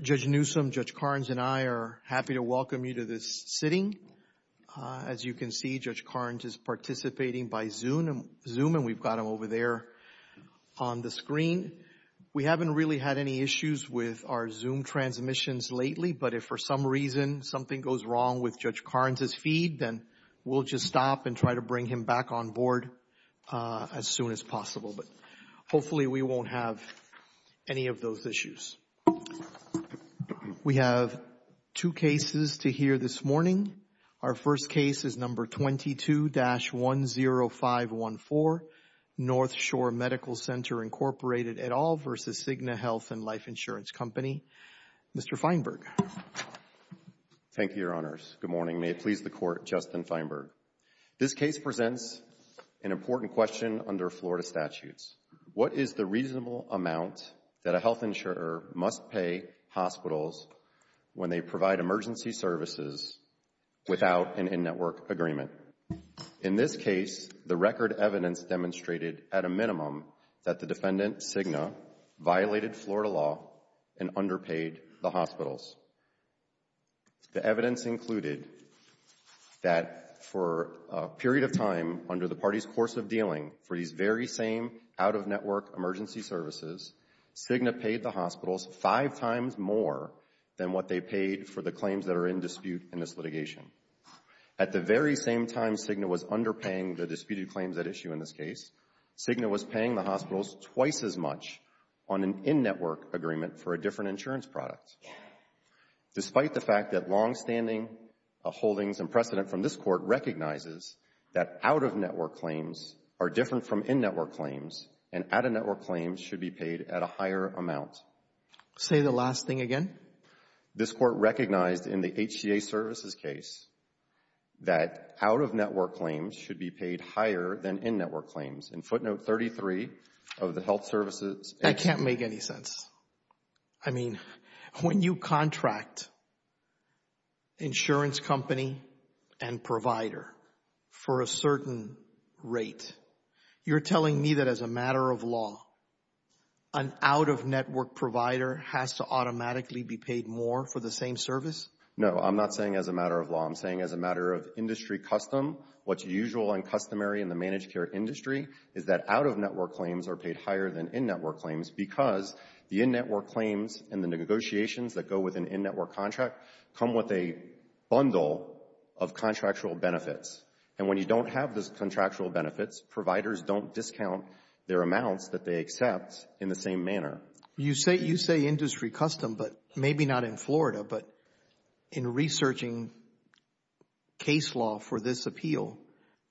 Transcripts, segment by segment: Judge Newsom, Judge Karnes, and I are happy to welcome you to this sitting. As you can see, Judge Karnes is participating by Zoom, and we've got him over there on the screen. We haven't really had any issues with our Zoom transmissions lately, but if for some reason something goes wrong with Judge Karnes' feed, then we'll just stop and try to bring him back on board as soon as possible. But hopefully we won't have any of those issues. We have two cases to hear this morning. Our first case is No. 22-10514, North Shore Medical Center, Inc. et al. v. Cigna Health and Life Insurance Company. Mr. Feinberg. Thank you, Your Honors. Good morning. May it please the Court, Justin Feinberg. This case presents an important question under Florida statutes. What is the reasonable amount that a health insurer must pay hospitals when they provide emergency services without an in-network agreement? In this case, the record evidence demonstrated, at a minimum, that Florida law and underpaid the hospitals. The evidence included that for a period of time under the party's course of dealing for these very same out-of-network emergency services, Cigna paid the hospitals five times more than what they paid for the claims that are in dispute in this litigation. At the very same time Cigna was underpaying the disputed claims at issue in this case, Cigna was paying the hospitals twice as much on an in-network agreement for a different insurance product. Despite the fact that longstanding holdings and precedent from this Court recognizes that out-of-network claims are different from in-network claims and out-of-network claims should be paid at a higher amount. Say the last thing again. This Court recognized in the HCA services case that out-of-network claims should be paid higher than in-network claims. In footnote 33 of the health services... I can't make any sense. I mean, when you contract insurance company and provider for a certain rate, you're telling me that as a matter of law, an out-of-network provider has to automatically be paid more for the same service? No, I'm not saying as a matter of law. I'm saying as a matter of industry custom, what's usual and customary in the managed care industry is that out-of-network claims are paid higher than in-network claims because the in-network claims and the negotiations that go with an in-network contract come with a bundle of contractual benefits. And when you don't have those contractual benefits, providers don't discount their amounts that they accept in the same manner. You say industry custom, but maybe not in Florida, but in researching case law for this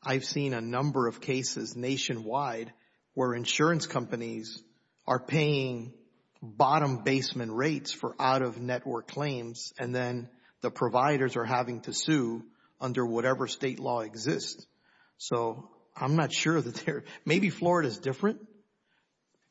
I've seen a number of cases nationwide where insurance companies are paying bottom basement rates for out-of-network claims and then the providers are having to sue under whatever state law exists. So, I'm not sure that they're... maybe Florida's different?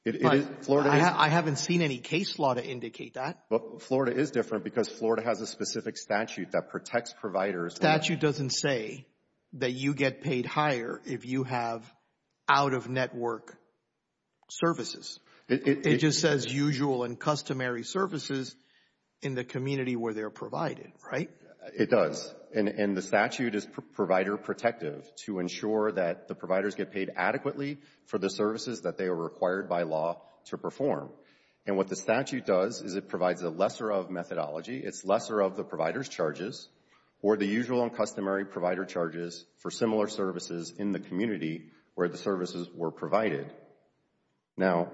It is. But I haven't seen any case law to indicate that. But Florida is different because Florida has a specific statute that protects providers. The statute doesn't say that you get paid higher if you have out-of-network services. It just says usual and customary services in the community where they're provided, right? It does. And the statute is provider protective to ensure that the providers get paid adequately for the services that they are required by law to perform. And what the statute does is it provides a lesser of methodology. It's lesser of the provider's charges or the usual and customary provider charges for similar services in the community where the services were provided. Now,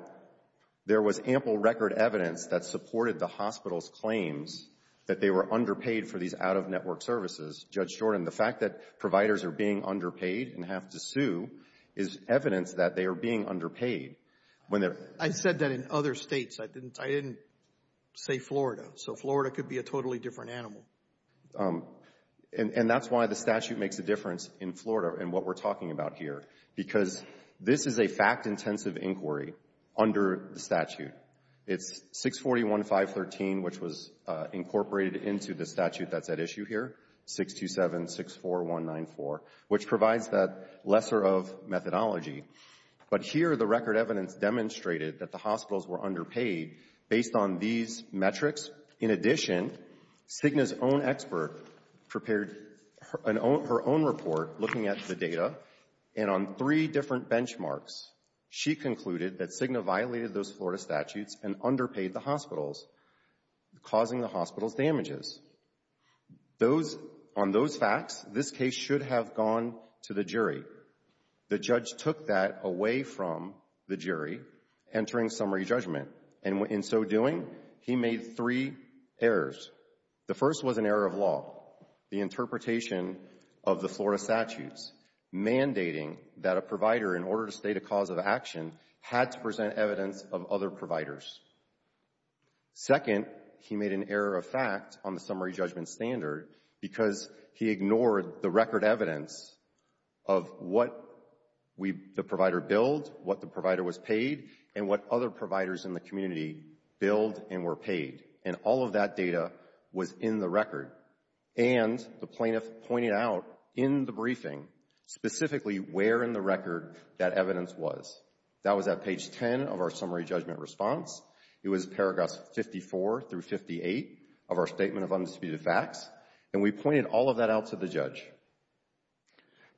there was ample record evidence that supported the hospital's claims that they were underpaid for these out-of-network services. Judge Jordan, the fact that providers are being underpaid and have to sue is evidence that they are being underpaid. I said that in other states. I didn't say Florida. So Florida could be a totally different animal. And that's why the statute makes a difference in Florida and what we're talking about here. Because this is a fact-intensive inquiry under the statute. It's 641.513, which was incorporated into the statute that's at issue here, 627.64194, which provides that lesser of methodology. But here, the record evidence demonstrated that the hospitals were underpaid based on these metrics. In addition, Cigna's own expert prepared her own report looking at the data. And on three different benchmarks, she concluded that Cigna violated those Florida statutes and underpaid the hospitals, causing the hospital's damages. Those — on those facts, this case should have gone to the jury. The judge took that away from the jury entering summary judgment. And in so doing, he made three errors. The first was an error of law, the interpretation of the Florida statutes, mandating that a provider, in order to state a cause of action, had to present evidence of other providers. Second, he made an error of fact on the summary judgment standard because he ignored the record evidence of what the provider billed, what the provider was paid, and what other providers in the community billed and were paid. And all of that data was in the record. And the plaintiff pointed out in the briefing specifically where in the record that evidence was. That was at page 10 of our statement of undisputed facts. And we pointed all of that out to the judge.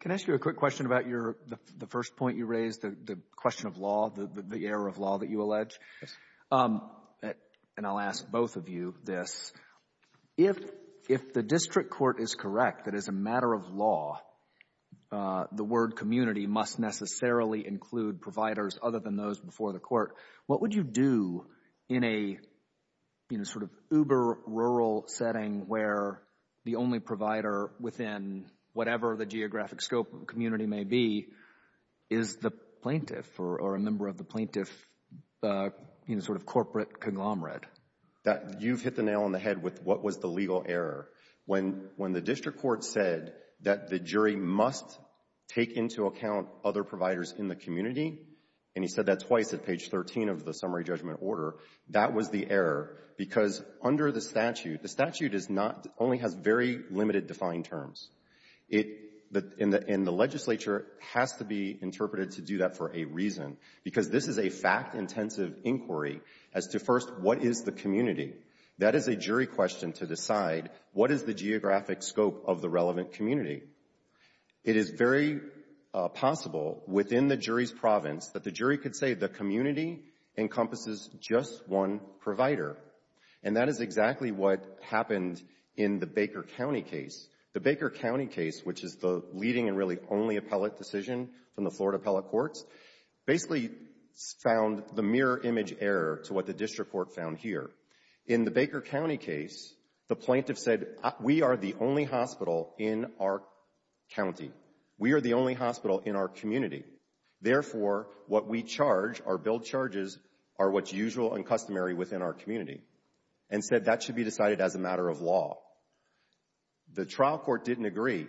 Can I ask you a quick question about your — the first point you raised, the question of law, the error of law that you allege? And I'll ask both of you this. If the district court is correct that as a matter of law, the word community must necessarily include providers other than those before the court, what would you do in a, you know, sort of uber-rural setting where the only provider within whatever the geographic scope of the community may be is the plaintiff or a member of the plaintiff, you know, sort of corporate conglomerate? You've hit the nail on the head with what was the legal error. When the district court said that the jury must take into account other providers in the community, and he said that twice at page 13 of the summary judgment order, that was the error, because under the statute, the statute is not — only has very limited defined terms. It — and the legislature has to be interpreted to do that for a reason, because this is a fact-intensive inquiry as to, first, what is the community? That is a jury question to decide what is the geographic scope of the relevant community. It is very possible within the jury's province that the jury could say the community encompasses just one provider, and that is exactly what happened in the Baker County case. The Baker County case, which is the leading and really only appellate decision from the Florida appellate courts, basically found the mirror image error to what the district court found here. In the Baker County case, the plaintiff said, we are the only hospital in our county. We are the only hospital in our community. Therefore, what we charge, our billed charges, are what's usual and customary within our community, and said that should be decided as a matter of law. The trial court didn't agree,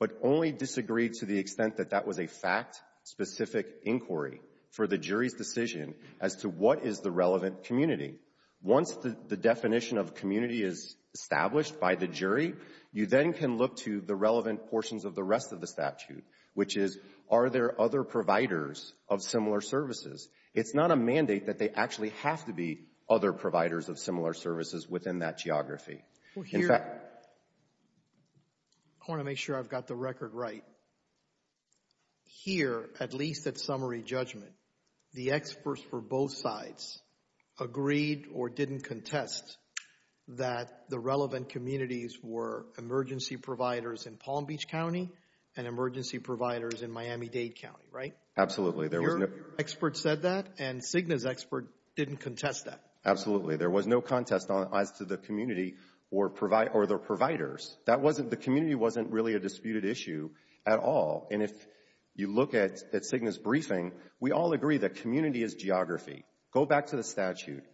but only disagreed to the extent that that was a fact-specific inquiry for the jury's decision as to what is the relevant community. Once the definition of community is established by the jury, you then can look to the relevant portions of the rest of the statute, which is, are there other providers of similar services? It's not a mandate that they actually have to be other providers of similar services within that geography. Here, I want to make sure I've got the record right. Here, at least at summary judgment, the experts for both sides agreed or didn't contest that the relevant communities were emergency providers in Palm Beach County and emergency providers in Miami-Dade County, right? Absolutely. Your expert said that, and Cigna's expert didn't contest that. Absolutely. There was no contest as to the community or the providers. The community wasn't really a disputed issue at all, and if you look at Cigna's briefing, we all agree that community is geography. Go back to the statute.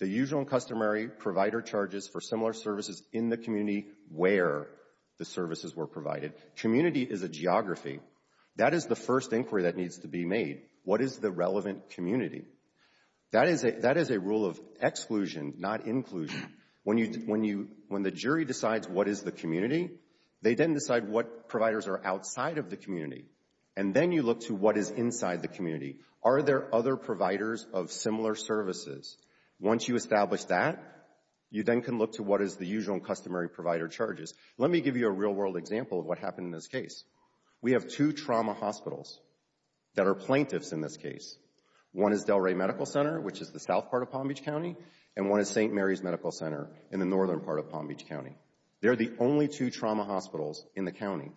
The usual and customary provider charges for similar services in the community where the services were provided. Community is a geography. That is the first inquiry that needs to be made. What is the relevant community? That is a rule of exclusion, not inclusion. When the jury decides what is the community, they then decide what providers are outside of the community, and then you look to what is inside the community. Are there other providers of similar services? Once you establish that, you then can look to what is the usual and customary provider charges. Let me give you a real-world example of what happened in this case. We have two trauma hospitals that are plaintiffs in this case. One is Delray Medical Center, which is the south part of Palm Beach County, and one is St. Mary's Medical Center in the northern part of Palm Beach County. They're the only two trauma hospitals in the county,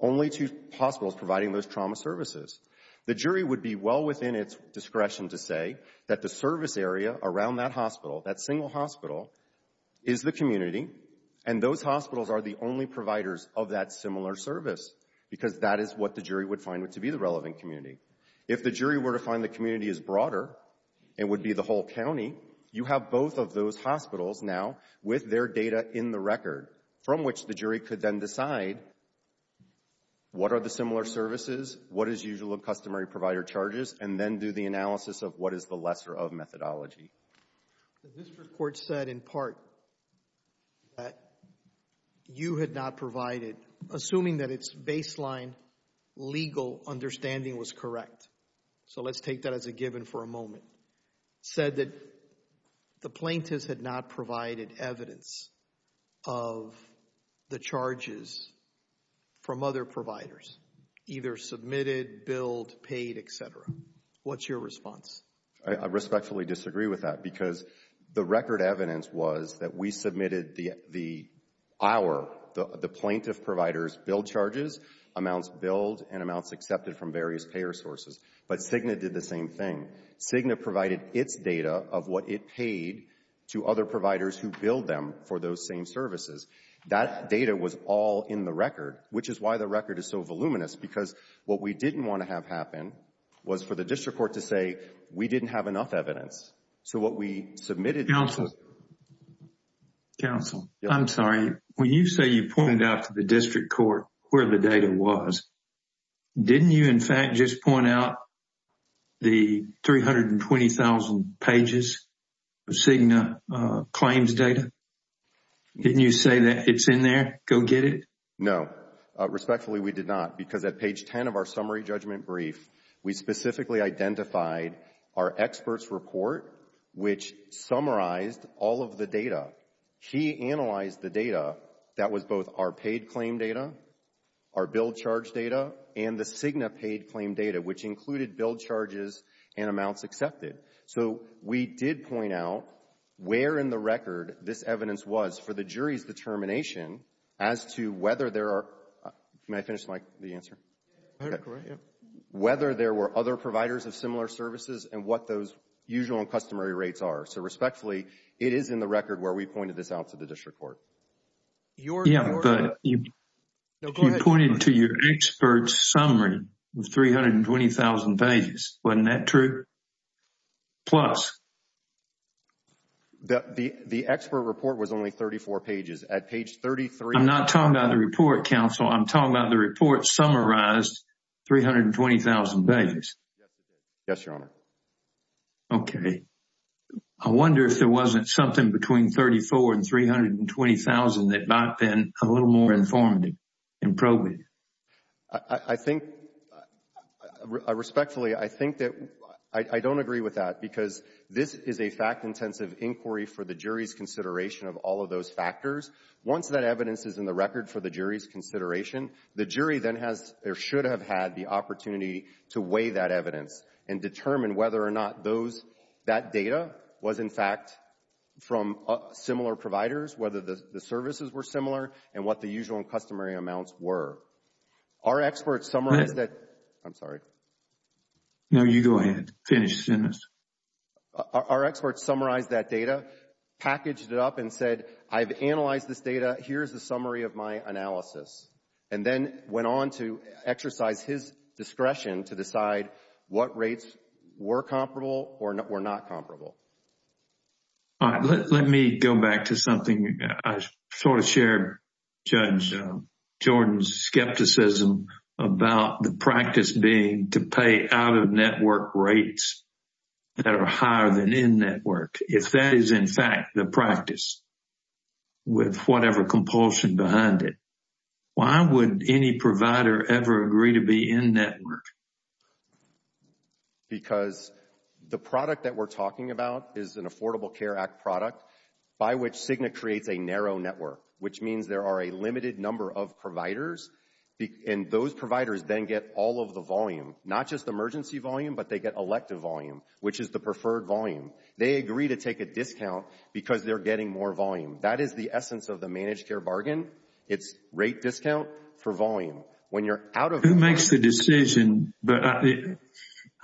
only two hospitals providing those trauma services. The jury would be well within its discretion to say that the service area around that hospital, that single hospital, is the community, and those would find it to be the relevant community. If the jury were to find the community is broader, it would be the whole county. You have both of those hospitals now with their data in the record, from which the jury could then decide what are the similar services, what is usual and customary provider charges, and then do the analysis of what is the lesser of methodology. The district court said in part that you had not provided, assuming that its baseline legal understanding was correct, so let's take that as a given for a moment, said that the plaintiffs had not provided evidence of the charges from other providers, either submitted, billed, paid, etc. What's your response? I respectfully disagree with that because the record evidence was that we submitted the our, the plaintiff provider's billed charges, amounts billed, and amounts accepted from various payer sources, but Cigna did the same thing. Cigna provided its data of what it paid to other providers who billed them for those same services. That data was all in the record, which is why the record is so voluminous, because what we didn't want to have happen was for the district court to say we didn't have enough evidence. So what we submitted... Counsel, I'm sorry, when you say you pointed out to the district court where the data was, didn't you in fact just point out the 320,000 pages of Cigna claims data? Didn't you say that it's in there, go get it? No, respectfully we did not, because at page 10 of our summary judgment brief, we specifically identified our expert's report, which summarized all of the data. He analyzed the data that was both our paid claim data, our billed charge data, and the Cigna paid claim data, which included billed charges and amounts accepted. So we did point out where in the evidence was for the jury's determination as to whether there were other providers of similar services and what those usual and customary rates are. So respectfully, it is in the record where we pointed this out to the district court. Yeah, but you pointed to your expert's summary with 320,000 pages. Wasn't that true? Plus? The expert report was only 34 pages. At page 33... I'm not talking about the report, Counsel. I'm talking about the report summarized 320,000 pages. Yes, Your Honor. Okay. I wonder if there wasn't something between 34 and 320,000 that might have been a little more informative and probate. I think, respectfully, I think that I don't agree with that because this is a fact-intensive inquiry for the jury's consideration of all of those factors. Once that evidence is in the record for the jury's consideration, the jury then has or should have had the opportunity to weigh that evidence and determine whether or not that data was, in fact, from similar providers, whether the services were similar and what the usual and customary amounts were. Our experts summarized that... Go ahead. I'm sorry. No, you go ahead. Finish the sentence. Our experts summarized that data, packaged it up and said, I've analyzed this data. Here's the summary of my analysis, and then went on to exercise his discretion to decide what rates were comparable or were not comparable. All right. Let me go back to something I sort of shared, Judge Jordan's skepticism about the practice being to pay out-of-network rates that are higher than in-network. If that is, in fact, the practice with whatever compulsion behind it, why would any provider ever agree to be in-network? Because the product that we're talking about is an Affordable Care Act product by which Cigna creates a narrow network, which means there are a limited number of providers, and those providers then get all of the volume, not just emergency volume, but they get elective volume, which is the preferred volume. They agree to take a discount because they're getting more volume. That is the essence of the managed care bargain. It's rate discount for volume. When you're out Who makes the decision, but I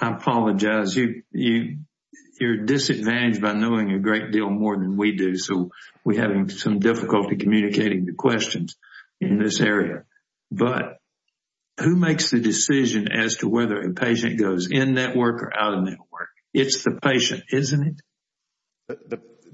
apologize, you're disadvantaged by knowing a great deal more than we do, so we're having some difficulty communicating the questions in this area. But who makes the decision as to whether a patient goes in-network or out-of-network? It's the patient, isn't it?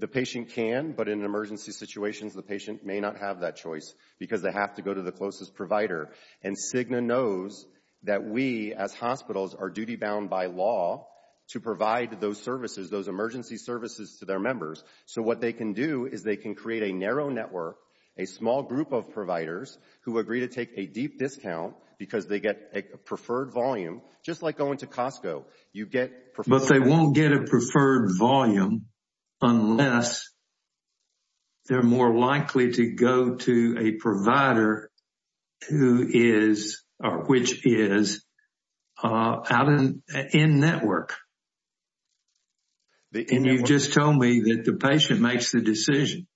The patient can, but in emergency situations, the patient may not have that choice because they have to go to the closest provider, and Cigna knows that we as hospitals are duty-bound by law to provide those services, those emergency services to their members. So what they can do is they can create a narrow network, a small group of providers who agree to take a deep discount because they get a preferred volume, just like going to Costco. You get But they won't get a preferred volume unless they're more likely to go to a provider who is, which is out in-network. And you've just told me that the patient makes the decision.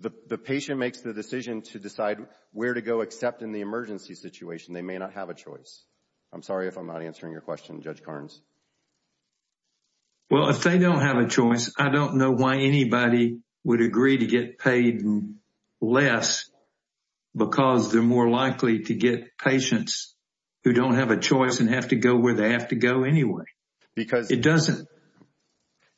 The patient makes the decision to decide where to go, except in the emergency situation, they may not have a choice. I'm sorry if I'm not answering your question, Judge Carnes. Well, if they don't have a choice, I don't know why anybody would agree to get paid less because they're more likely to get patients who don't have a choice and have to go where they have to go anyway. Because it doesn't.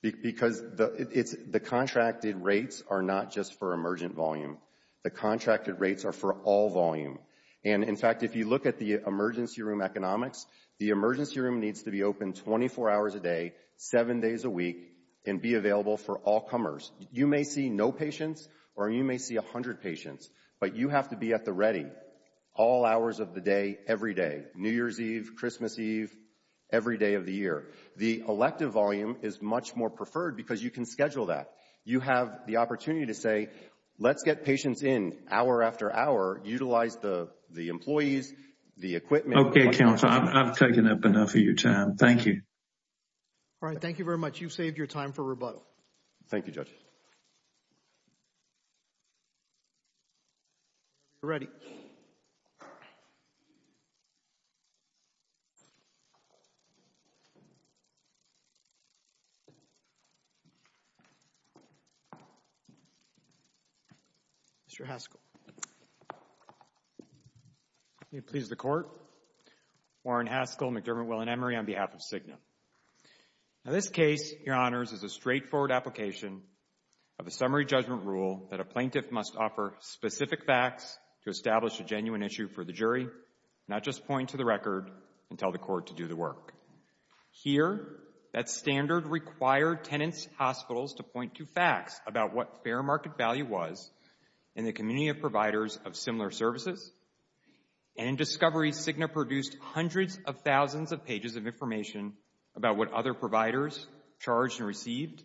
Because the contracted rates are not just for emergent volume. The contracted rates are for all volume. And in fact, if you look at the emergency room economics, the emergency room needs to be open 24 hours a day, seven days a week and be available for all comers. You may see no patients or you may see 100 patients, but you have to be at the ready all hours of the day, every day, New Year's Eve, Christmas Eve, every day of the year. The elective volume is much more preferred because you can schedule that. You have the patients in hour after hour. Utilize the employees, the equipment. Okay, counsel. I've taken up enough of your time. Thank you. All right. Thank you very much. You've saved your time for rebuttal. Thank you, Judge. You're ready. Mr. Haskell. May it please the Court. Warren Haskell, McDermott, Will and Emery on behalf of Cigna. Now, this case, Your Honors, is a straightforward application of a summary judgment rule that a plaintiff must offer specific facts to establish a genuine issue for the jury, not just point to the record and tell the court to do the work. Here, that standard required tenants' hospitals to and the community of providers of similar services. And in discovery, Cigna produced hundreds of thousands of pages of information about what other providers charged and received,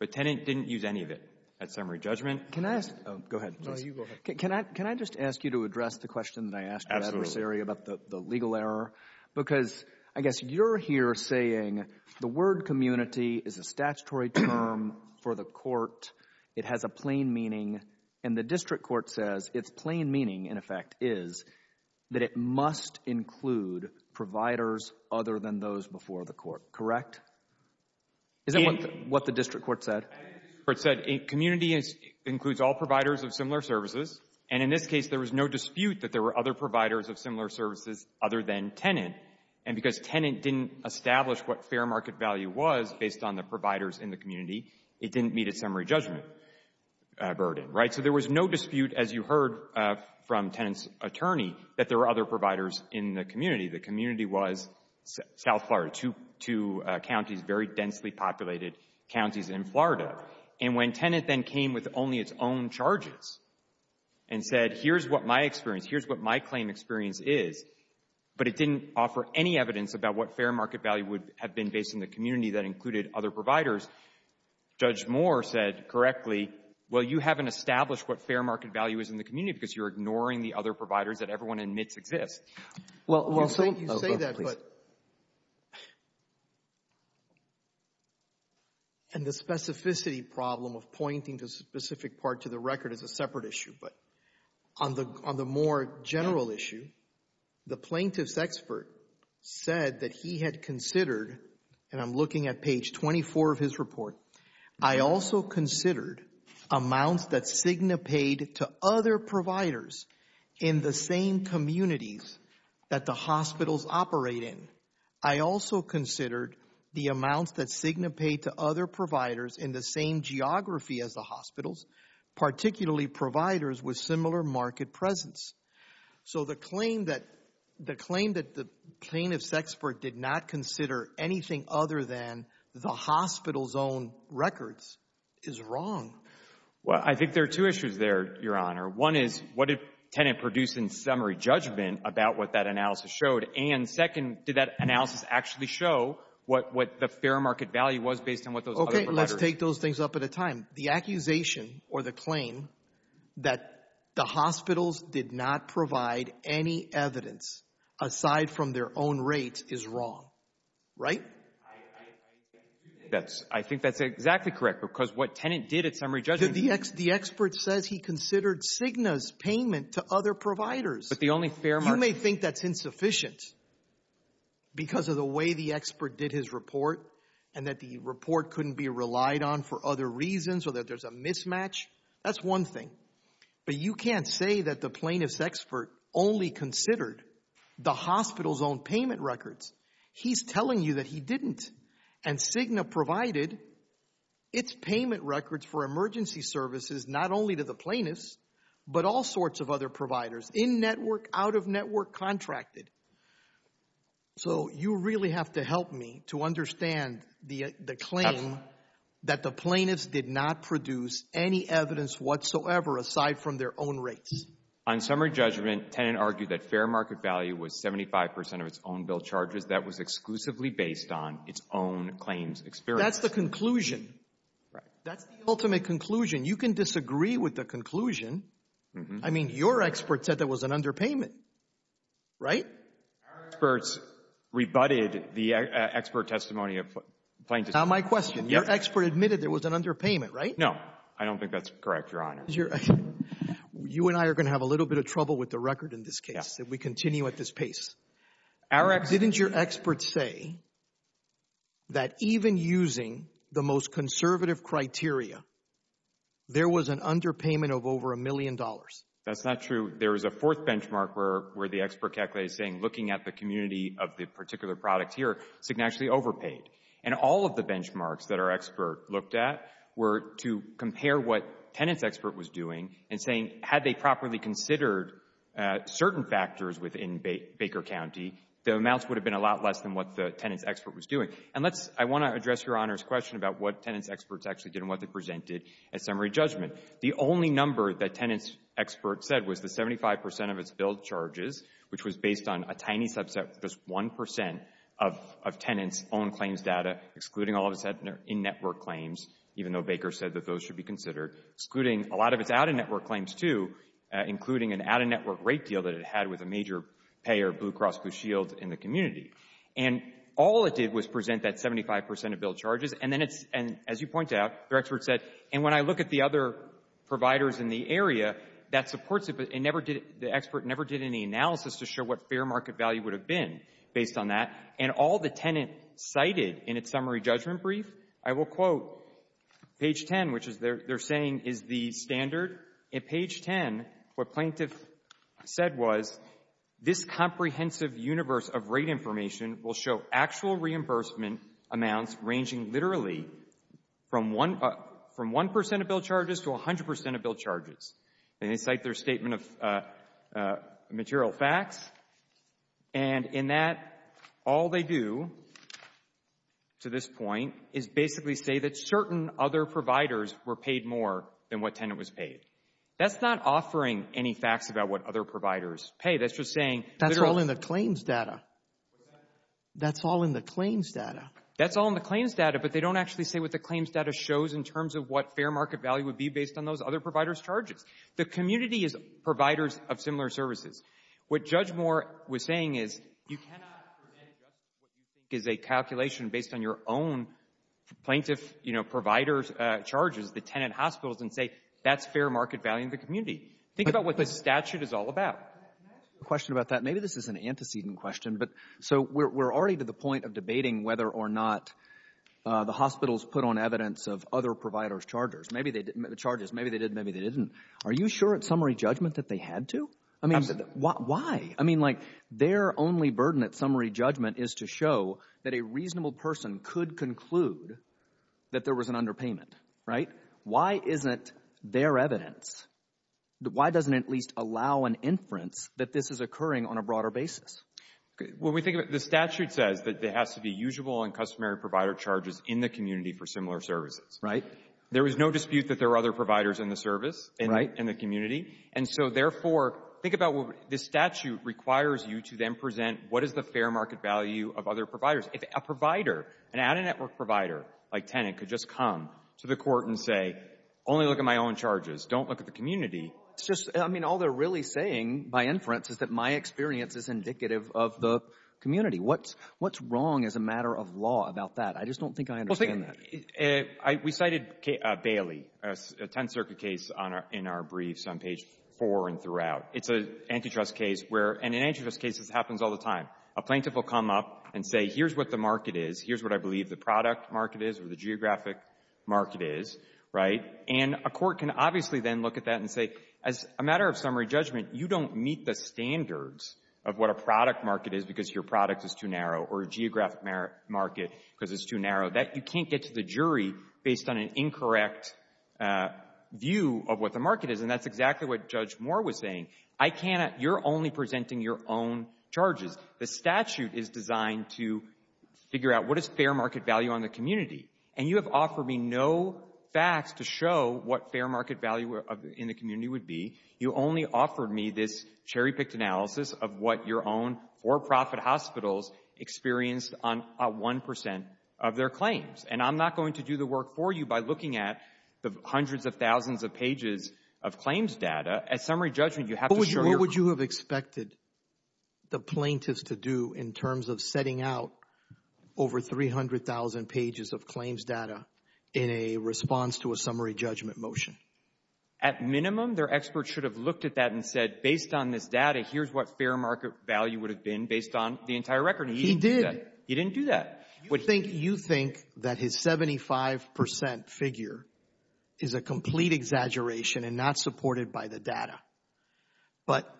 but tenant didn't use any of it. That's summary judgment. Can I ask? Oh, go ahead. No, you go ahead. Can I just ask you to address the question that I asked your adversary about the legal error? Because I guess you're here saying the word community is a statutory term for the court. It has a plain meaning, and the district court says its plain meaning, in effect, is that it must include providers other than those before the court, correct? Is that what the district court said? I think the district court said community includes all providers of similar services. And in this case, there was no dispute that there were other providers of similar services other than tenant. And because tenant didn't establish what fair market value was based on providers in the community, it didn't meet its summary judgment burden, right? So there was no dispute, as you heard from tenant's attorney, that there were other providers in the community. The community was South Florida, two counties, very densely populated counties in Florida. And when tenant then came with only its own charges and said, here's what my experience, here's what my claim experience is, but it didn't offer any evidence about what fair market value is for providers, Judge Moore said correctly, well, you haven't established what fair market value is in the community because you're ignoring the other providers that everyone admits exist. Well, you say that, but, and the specificity problem of pointing the specific part to the record is a separate issue. But on the more general issue, the plaintiff's expert said that he had considered, and I'm looking at page 24 of his report, I also considered amounts that Cigna paid to other providers in the same communities that the hospitals operate in. I also considered the amounts that Cigna paid to other providers in the same geography as the hospitals, particularly providers with similar market presence. So the claim that the plaintiff's expert did not consider anything other than the hospital's own records is wrong. Well, I think there are two issues there, Your Honor. One is, what did tenant produce in summary judgment about what that analysis showed? And second, did that analysis actually show what the fair market value was based on what those other providers? Let's take those things up at a time. The accusation, or the claim, that the hospitals did not provide any evidence aside from their own rates is wrong, right? That's, I think that's exactly correct, because what tenant did at summary judgment The expert says he considered Cigna's payment to other providers. But the only fair market You may think that's insufficient because of the way the expert did his report, and the report couldn't be relied on for other reasons, or that there's a mismatch. That's one thing. But you can't say that the plaintiff's expert only considered the hospital's own payment records. He's telling you that he didn't. And Cigna provided its payment records for emergency services not only to the plaintiffs, but all sorts of other providers, in-network, out-of-network, contracted. So, you really have to help me to understand the claim that the plaintiffs did not produce any evidence whatsoever aside from their own rates. On summary judgment, tenant argued that fair market value was 75% of its own bill charges. That was exclusively based on its own claims experience. That's the conclusion. That's the ultimate conclusion. You can disagree with the conclusion. I mean, your expert said that was an underpayment, right? Our experts rebutted the expert testimony of plaintiffs. Now, my question. Your expert admitted there was an underpayment, right? No. I don't think that's correct, Your Honor. You and I are going to have a little bit of trouble with the record in this case, if we continue at this pace. Didn't your expert say that even using the most conservative criteria, there was an underpayment of over a million dollars? That's not true. There is a fourth benchmark where the expert calculated saying, looking at the community of the particular product here, it's actually overpaid. And all of the benchmarks that our expert looked at were to compare what Tenant's expert was doing and saying, had they properly considered certain factors within Baker County, the amounts would have been a lot less than what the Tenant's expert was doing. And let's, I want to address Your Honor's question about what Tenant's experts actually did and what they presented at summary judgment. The only number that Tenant's expert said was the 75% of its billed charges, which was based on a tiny subset, just 1% of Tenant's own claims data, excluding all of its in-network claims, even though Baker said that those should be considered, excluding a lot of its out-of-network claims too, including an out-of-network rate deal that it had with a major payer, Blue Cross Blue Shield, in the community. And all it did was present that 75% of billed charges. And then it's, and as you point out, the expert said, and when I look at the other providers in the area, that supports it, but it never did, the expert never did any analysis to show what fair market value would have been based on that. And all the Tenant cited in its summary judgment brief, I will quote page 10, which is, they're saying is the standard. At page 10, what Plaintiff said was, this comprehensive universe of rate information will show actual reimbursement amounts ranging literally from 1% of billed charges to 100% of billed charges. And they cite their statement of material facts. And in that, all they do to this point is basically say that certain other providers were paid more than what Tenant was paid. That's not offering any facts about what other providers pay. That's just saying. That's all in the claims data. That's all in the claims data. That's all in the claims data, but they don't actually say what the claims data shows in terms of what fair market value would be based on those other providers' charges. The community is providers of similar services. What Judge Moore was saying is, you cannot present what you think is a calculation based on your own Plaintiff, you know, providers' charges, the Tenant hospitals, and say, that's fair market value in the community. Think about what the statute is all about. Can I ask you a question about that? Maybe this is an antecedent question, but so we're already to the point of debating whether or not the hospitals put on evidence of other providers' charges. Maybe they didn't make the charges. Maybe they did, maybe they didn't. Are you sure at summary judgment that they had to? I mean, why? I mean, like, their only burden at summary judgment is to show that a reasonable person could conclude that there was an underpayment, right? Why isn't there evidence? Why doesn't it at least allow an inference that this is occurring on a broader basis? When we think of it, the statute says that there has to be usual and customary provider charges in the community for similar services. Right. There is no dispute that there are other providers in the service, in the community. And so therefore, think about what this statute requires you to then present what is the fair market value of other providers. If a provider, an out-of-network provider like Tenant could just come to the court and say, only look at my own charges, don't look at the community. It's just, I mean, all they're really saying by inference is that my experience is indicative of the community. What's wrong as a matter of law about that? I just don't think I understand that. Well, we cited Bailey, a Tenth Circuit case in our briefs on page four and throughout. It's an antitrust case where, and in antitrust cases, it happens all the time. A plaintiff will come up and say, here's what the market is. Here's what I believe the product market is or the geographic market is, right? And a court can obviously then look at that and say, as a matter of summary judgment, you don't meet the standards of what a product market is because your product is too narrow or a geographic market because it's too narrow. That you can't get to the jury based on an incorrect view of what the market is. And that's exactly what Judge Moore was saying. I cannot, you're only presenting your own charges. The statute is designed to figure out what is fair market value on the community. And you have offered me no facts to show what fair market value in the community would be. You only offered me this cherry-picked analysis of what your own for-profit hospitals experienced on a 1% of their claims. And I'm not going to do the work for you by looking at the hundreds of thousands of pages of claims data. As summary judgment, you have to show your- What would you have expected the plaintiffs to do in terms of setting out over 300,000 pages of claims data in a response to a summary judgment motion? At minimum, their experts should have looked at that and said, based on this data, here's what fair market value would have been based on the entire record. He didn't do that. He didn't do that. You think that his 75% figure is a complete exaggeration and not supported by the data. But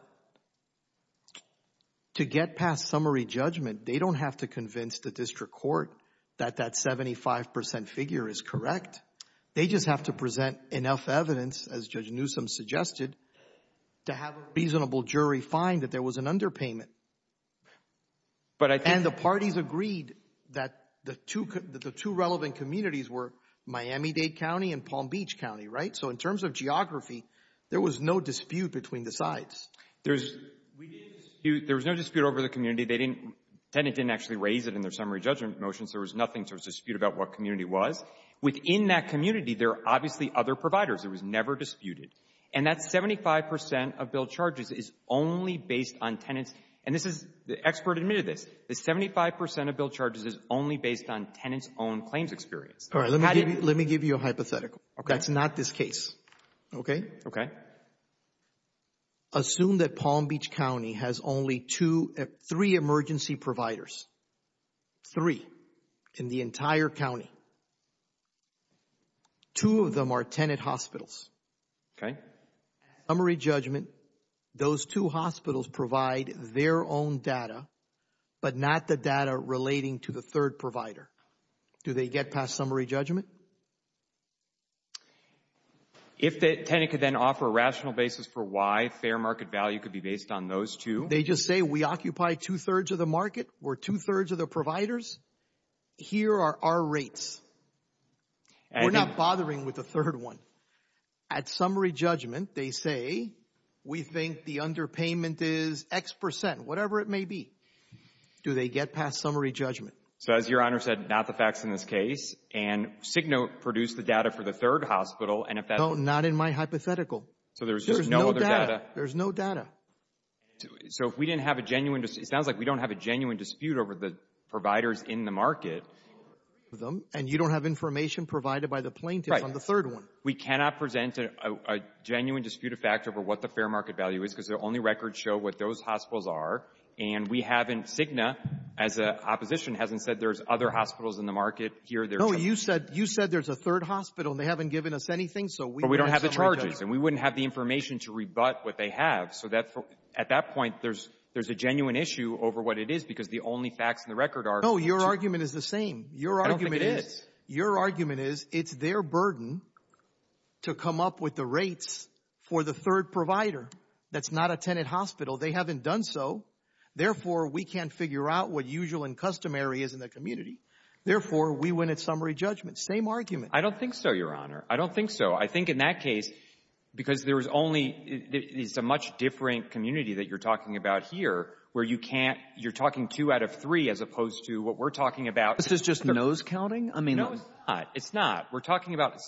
to get past summary judgment, they don't have to convince the district court that that 75% figure is correct. They just have to present enough evidence, as Judge Newsom suggested, to have a reasonable jury find that there was an underpayment. And the parties agreed that the two relevant communities were Miami-Dade County and Palm Beach County, right? So in terms of geography, there was no dispute between the sides. There was no dispute over the community. Tenant didn't actually raise it in their summary judgment motions. There was nothing to dispute about what community was. Within that community, there are obviously other providers. It was never disputed. And that 75% of bill charges is only based on tenants. And this is, the expert admitted this, the 75% of bill charges is only based on tenants' own claims experience. All right, let me give you a hypothetical. That's not this case, okay? Okay. Assume that Palm Beach County has only two, three emergency providers. Three in the entire county. Two of them are tenant hospitals. Okay. Summary judgment, those two hospitals provide their own data, but not the data relating to the third provider. Do they get past summary judgment? If the tenant could then offer a rational basis for why fair market value could be based on those two. They just say, we occupy two-thirds of the market. We're two-thirds of the providers. Here are our rates. We're not bothering with the third one. At summary judgment, they say, we think the underpayment is X percent, whatever it may be. Do they get past summary judgment? So as your Honor said, not the facts in this case. And Cigna produced the data for the third hospital. And if that's... No, not in my hypothetical. So there's just no other data? There's no data. So if we didn't have a genuine, it sounds like we don't have a genuine dispute over the providers in the market. And you don't have information provided by the plaintiff on the third one. We cannot present a genuine disputed fact over what the fair market value is because their only records show what those hospitals are. And we haven't, Cigna, as an opposition, hasn't said there's other hospitals in the market. No, you said there's a third hospital and they haven't given us anything. But we don't have the charges and we wouldn't have the information to rebut what they have. So at that point, there's a genuine issue over what it is because the only facts in the record are... No, your argument is the same. Your argument is, it's their burden to come up with the rates for the third provider that's not a tenant hospital. They haven't done so. Therefore, we can't figure out what usual and customary is in the community. Therefore, we win at summary judgment. Same argument. I don't think so, your honor. I don't think so. I think in that case, because there was only, it's a much different community that you're talking about here, where you can't, you're talking two out of three as opposed to what we're talking about. This is just nose counting? I mean... No, it's not. It's not. We're talking about...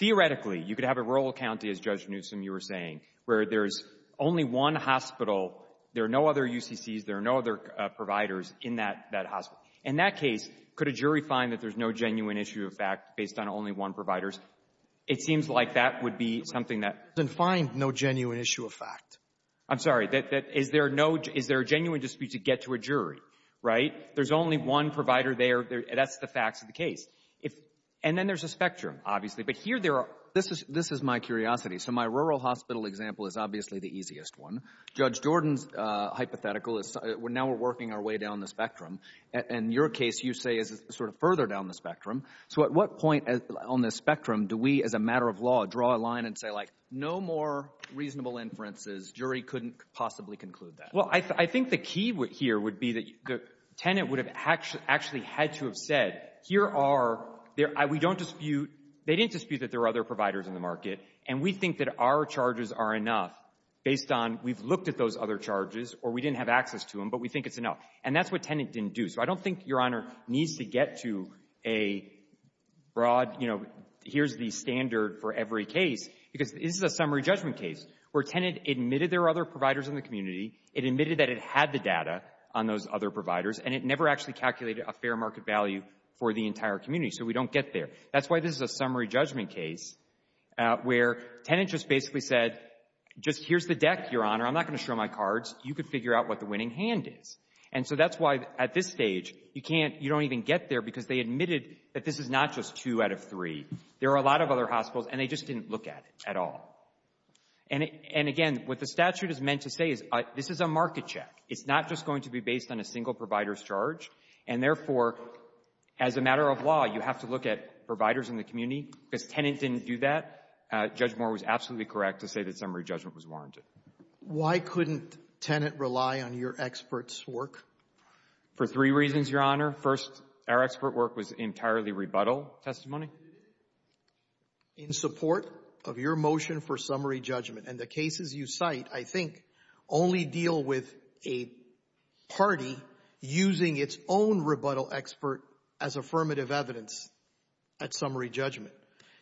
Theoretically, you could have a rural county, as Judge Newsom, you were saying, where there's only one hospital. There are no other UCCs. There are no other providers in that hospital. In that case, could a jury find that there's no genuine issue of fact based on only one provider? It seems like that would be something that... It doesn't find no genuine issue of fact. I'm sorry. Is there a genuine dispute to get to a jury, right? There's only one provider there. That's the facts of the case. And then there's a spectrum, obviously. But here there are... This is my curiosity. So my rural hospital example is obviously the easiest one. Judge Jordan's hypothetical is now we're working our way down the spectrum. In your case, you say it's sort of further down the spectrum. So at what point on the spectrum do we, as a matter of law, draw a line and say like, no more reasonable inferences. Jury couldn't possibly conclude that. Well, I think the key here would be that the tenant would have actually had to have said, here are... We don't dispute... They didn't dispute that there were other providers in the market. And we think that our charges are enough based on we've looked at those other charges or we didn't have access to them, but we think it's enough. And that's what tenant didn't do. So I don't think your Honor needs to get to a broad, you know, here's the standard for every case because this is a summary judgment case where tenant admitted there were other providers in the community. It admitted that it had the data on those other providers. And it never actually calculated a fair market value for the entire community. So we don't get there. That's why this is a summary judgment case where tenant just basically said, just here's the deck, Your Honor. I'm not going to show my cards. You could figure out what the winning hand is. And so that's why at this stage, you can't, you don't even get there because they admitted that this is not just two out of three. There are a lot of other hospitals and they just didn't look at it at all. And again, what the statute is meant to say is this is a market check. It's not just going to be based on a single provider's charge. And therefore, as a matter of law, you have to look at providers in the community. Because tenant didn't do that. Judge Moore was absolutely correct to say that summary judgment was warranted. Roberts. Why couldn't tenant rely on your expert's work? For three reasons, Your Honor. First, our expert work was entirely rebuttal testimony. In support of your motion for summary judgment and the cases you cite, I think, only deal with a party using its own rebuttal expert as affirmative evidence at summary judgment.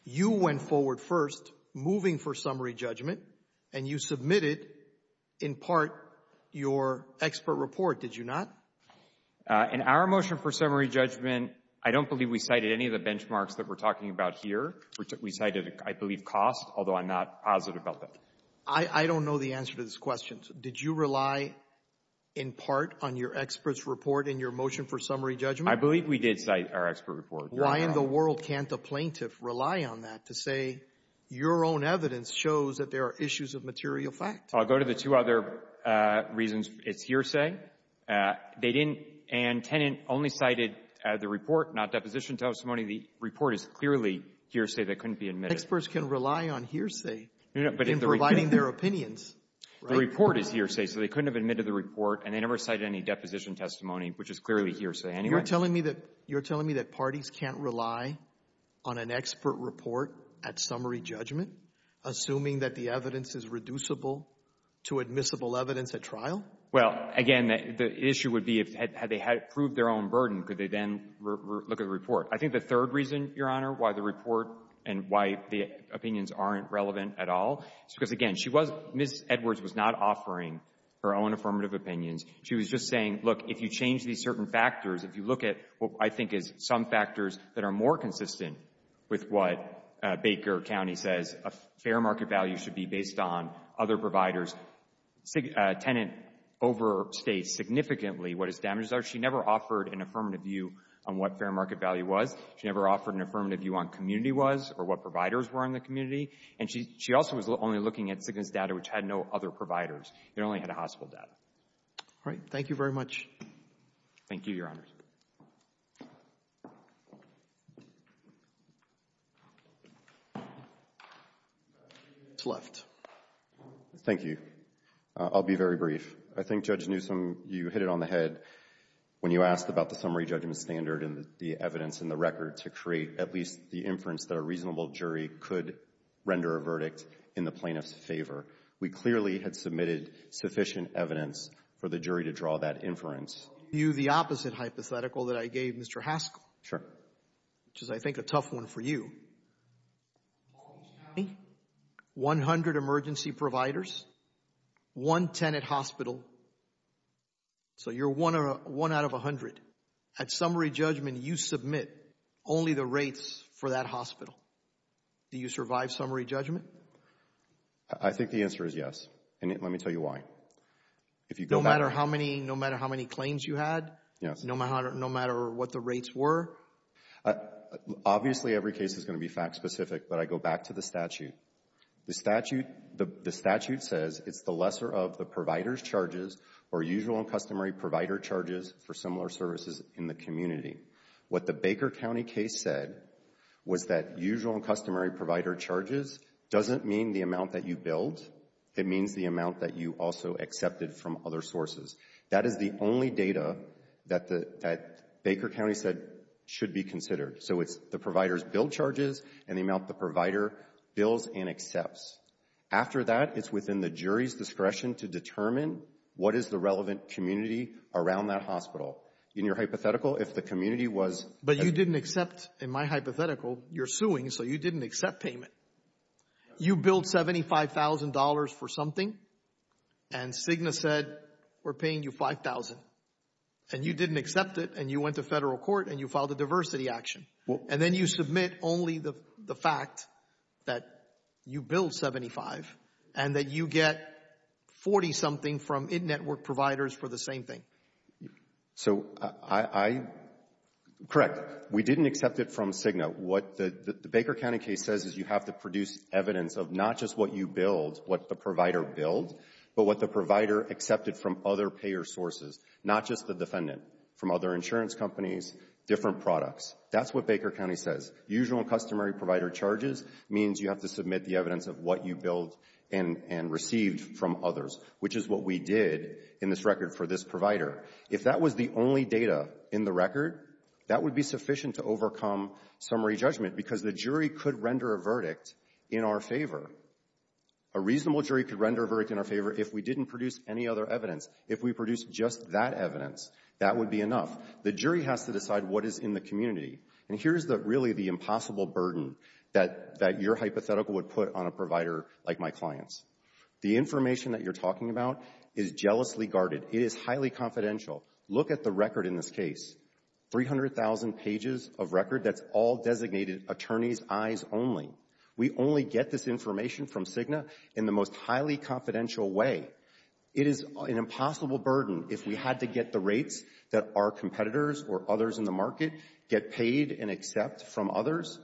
You went forward first, moving for summary judgment, and you submitted, in part, your expert report, did you not? In our motion for summary judgment, I don't believe we cited any of the benchmarks that we're talking about here. We cited, I believe, cost, although I'm not positive about that. I don't know the answer to this question. Did you rely, in part, on your expert's report in your motion for summary judgment? I believe we did cite our expert report. Why in the world can't a plaintiff rely on that to say your own evidence shows that there are issues of material fact? I'll go to the two other reasons. It's hearsay. They didn't. And tenant only cited the report, not deposition testimony. The report is clearly hearsay that couldn't be admitted. Experts can rely on hearsay in providing their opinions. The report is hearsay, so they couldn't have admitted the report, and they never cited any deposition testimony, which is clearly hearsay. You're telling me that parties can't rely on an expert report at summary judgment, assuming that the evidence is reducible to admissible evidence at trial? Well, again, the issue would be had they proved their own burden, could they then look at the report? I think the third reason, Your Honor, why the report and why the opinions aren't relevant at all, is because, again, Ms. Edwards was not offering her own affirmative opinions. She was just saying, look, if you change these certain factors, if you look at what I think is some factors that are more consistent with what Baker County says, a fair market value should be based on other providers. Tenant overstates significantly what its damages are. She never offered an affirmative view on what fair market value was. She never offered an affirmative view on community was or what providers were in the community. And she also was only looking at sickness data, which had no other providers. It only had a hospital data. All right. Thank you very much. Thank you, Your Honors. Thank you. I'll be very brief. I think, Judge Newsom, you hit it on the head when you asked about the summary judgment standard and the evidence in the record to create at least the inference that a reasonable jury could render a verdict in the plaintiff's favor. We clearly had submitted sufficient evidence for the jury to draw that inference. I'll give you the opposite hypothetical that I gave Mr. Haskell. Sure. Which is, I think, a tough one for you. 100 emergency providers, one tenant hospital. So you're one out of 100. At summary judgment, you submit only the rates for that hospital. Do you survive summary judgment? I think the answer is yes. And let me tell you why. No matter how many claims you had? Yes. No matter what the rates were? Obviously, every case is going to be fact specific. But I go back to the statute. The statute says it's the lesser of the provider's charges or usual and customary provider charges for similar services in the community. What the Baker County case said was that usual and customary provider charges doesn't mean the amount that you billed. It means the amount that you also accepted from other sources. That is the only data that Baker County said should be considered. So it's the provider's billed charges and the amount the provider bills and accepts. After that, it's within the jury's discretion to determine what is the relevant community around that hospital. In your hypothetical, if the community was... But you didn't accept, in my hypothetical, you're suing, so you didn't accept payment. You billed $75,000 for something and Cigna said, we're paying you $5,000. And you didn't accept it and you went to federal court and you filed a diversity action. And then you submit only the fact that you billed $75,000 and that you get $40,000 something from in-network providers for the same thing. Correct. We didn't accept it from Cigna. What the Baker County case says is you have to produce evidence of not just what you billed, what the provider billed, but what the provider accepted from other payer sources, not just the defendant, from other insurance companies, different products. That's what Baker County says. Usual and customary provider charges means you have to submit the evidence of what you billed and received from others, which is what we did in this record for this provider. If that was the only data in the record, that would be sufficient to overcome summary judgment because the jury could render a verdict in our favor. A reasonable jury could render a verdict in our favor if we didn't produce any other evidence. If we produced just that evidence, that would be enough. The jury has to decide what is in the community. And here's the really the impossible burden that your hypothetical would put on a provider like my client's. The information that you're talking about is jealously guarded. It is highly confidential. Look at the record in this case. 300,000 pages of record. That's all designated attorney's eyes only. We only get this information from Cigna in the most highly confidential way. It is an impossible burden if we had to get the rates that our competitors or others in the market get paid and accept from others.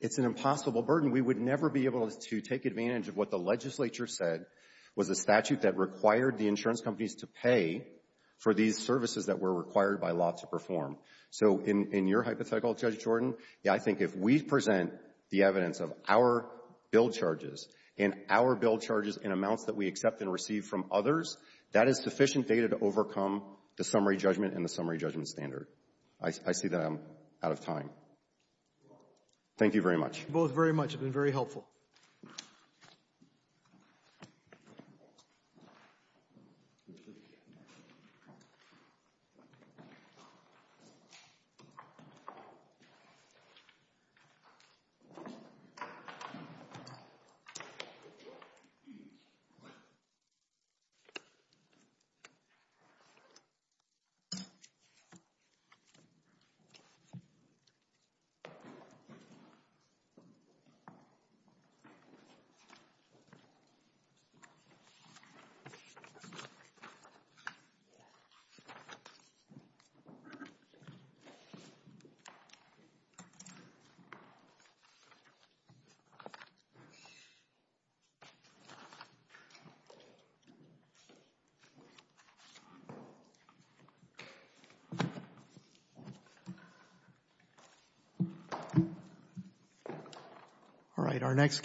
It's an impossible burden. We would never be able to take advantage of what the legislature said was a statute that required the insurance companies to pay for these services that were required by law to perform. So in your hypothetical, Judge Jordan, I think if we present the evidence of our bill charges and our bill charges in amounts that we accept and receive from others, that is sufficient data to overcome the summary judgment and the summary judgment standard. I see that I'm out of time. Thank you very much. Thank you both very much. It's been very helpful. All right, our next.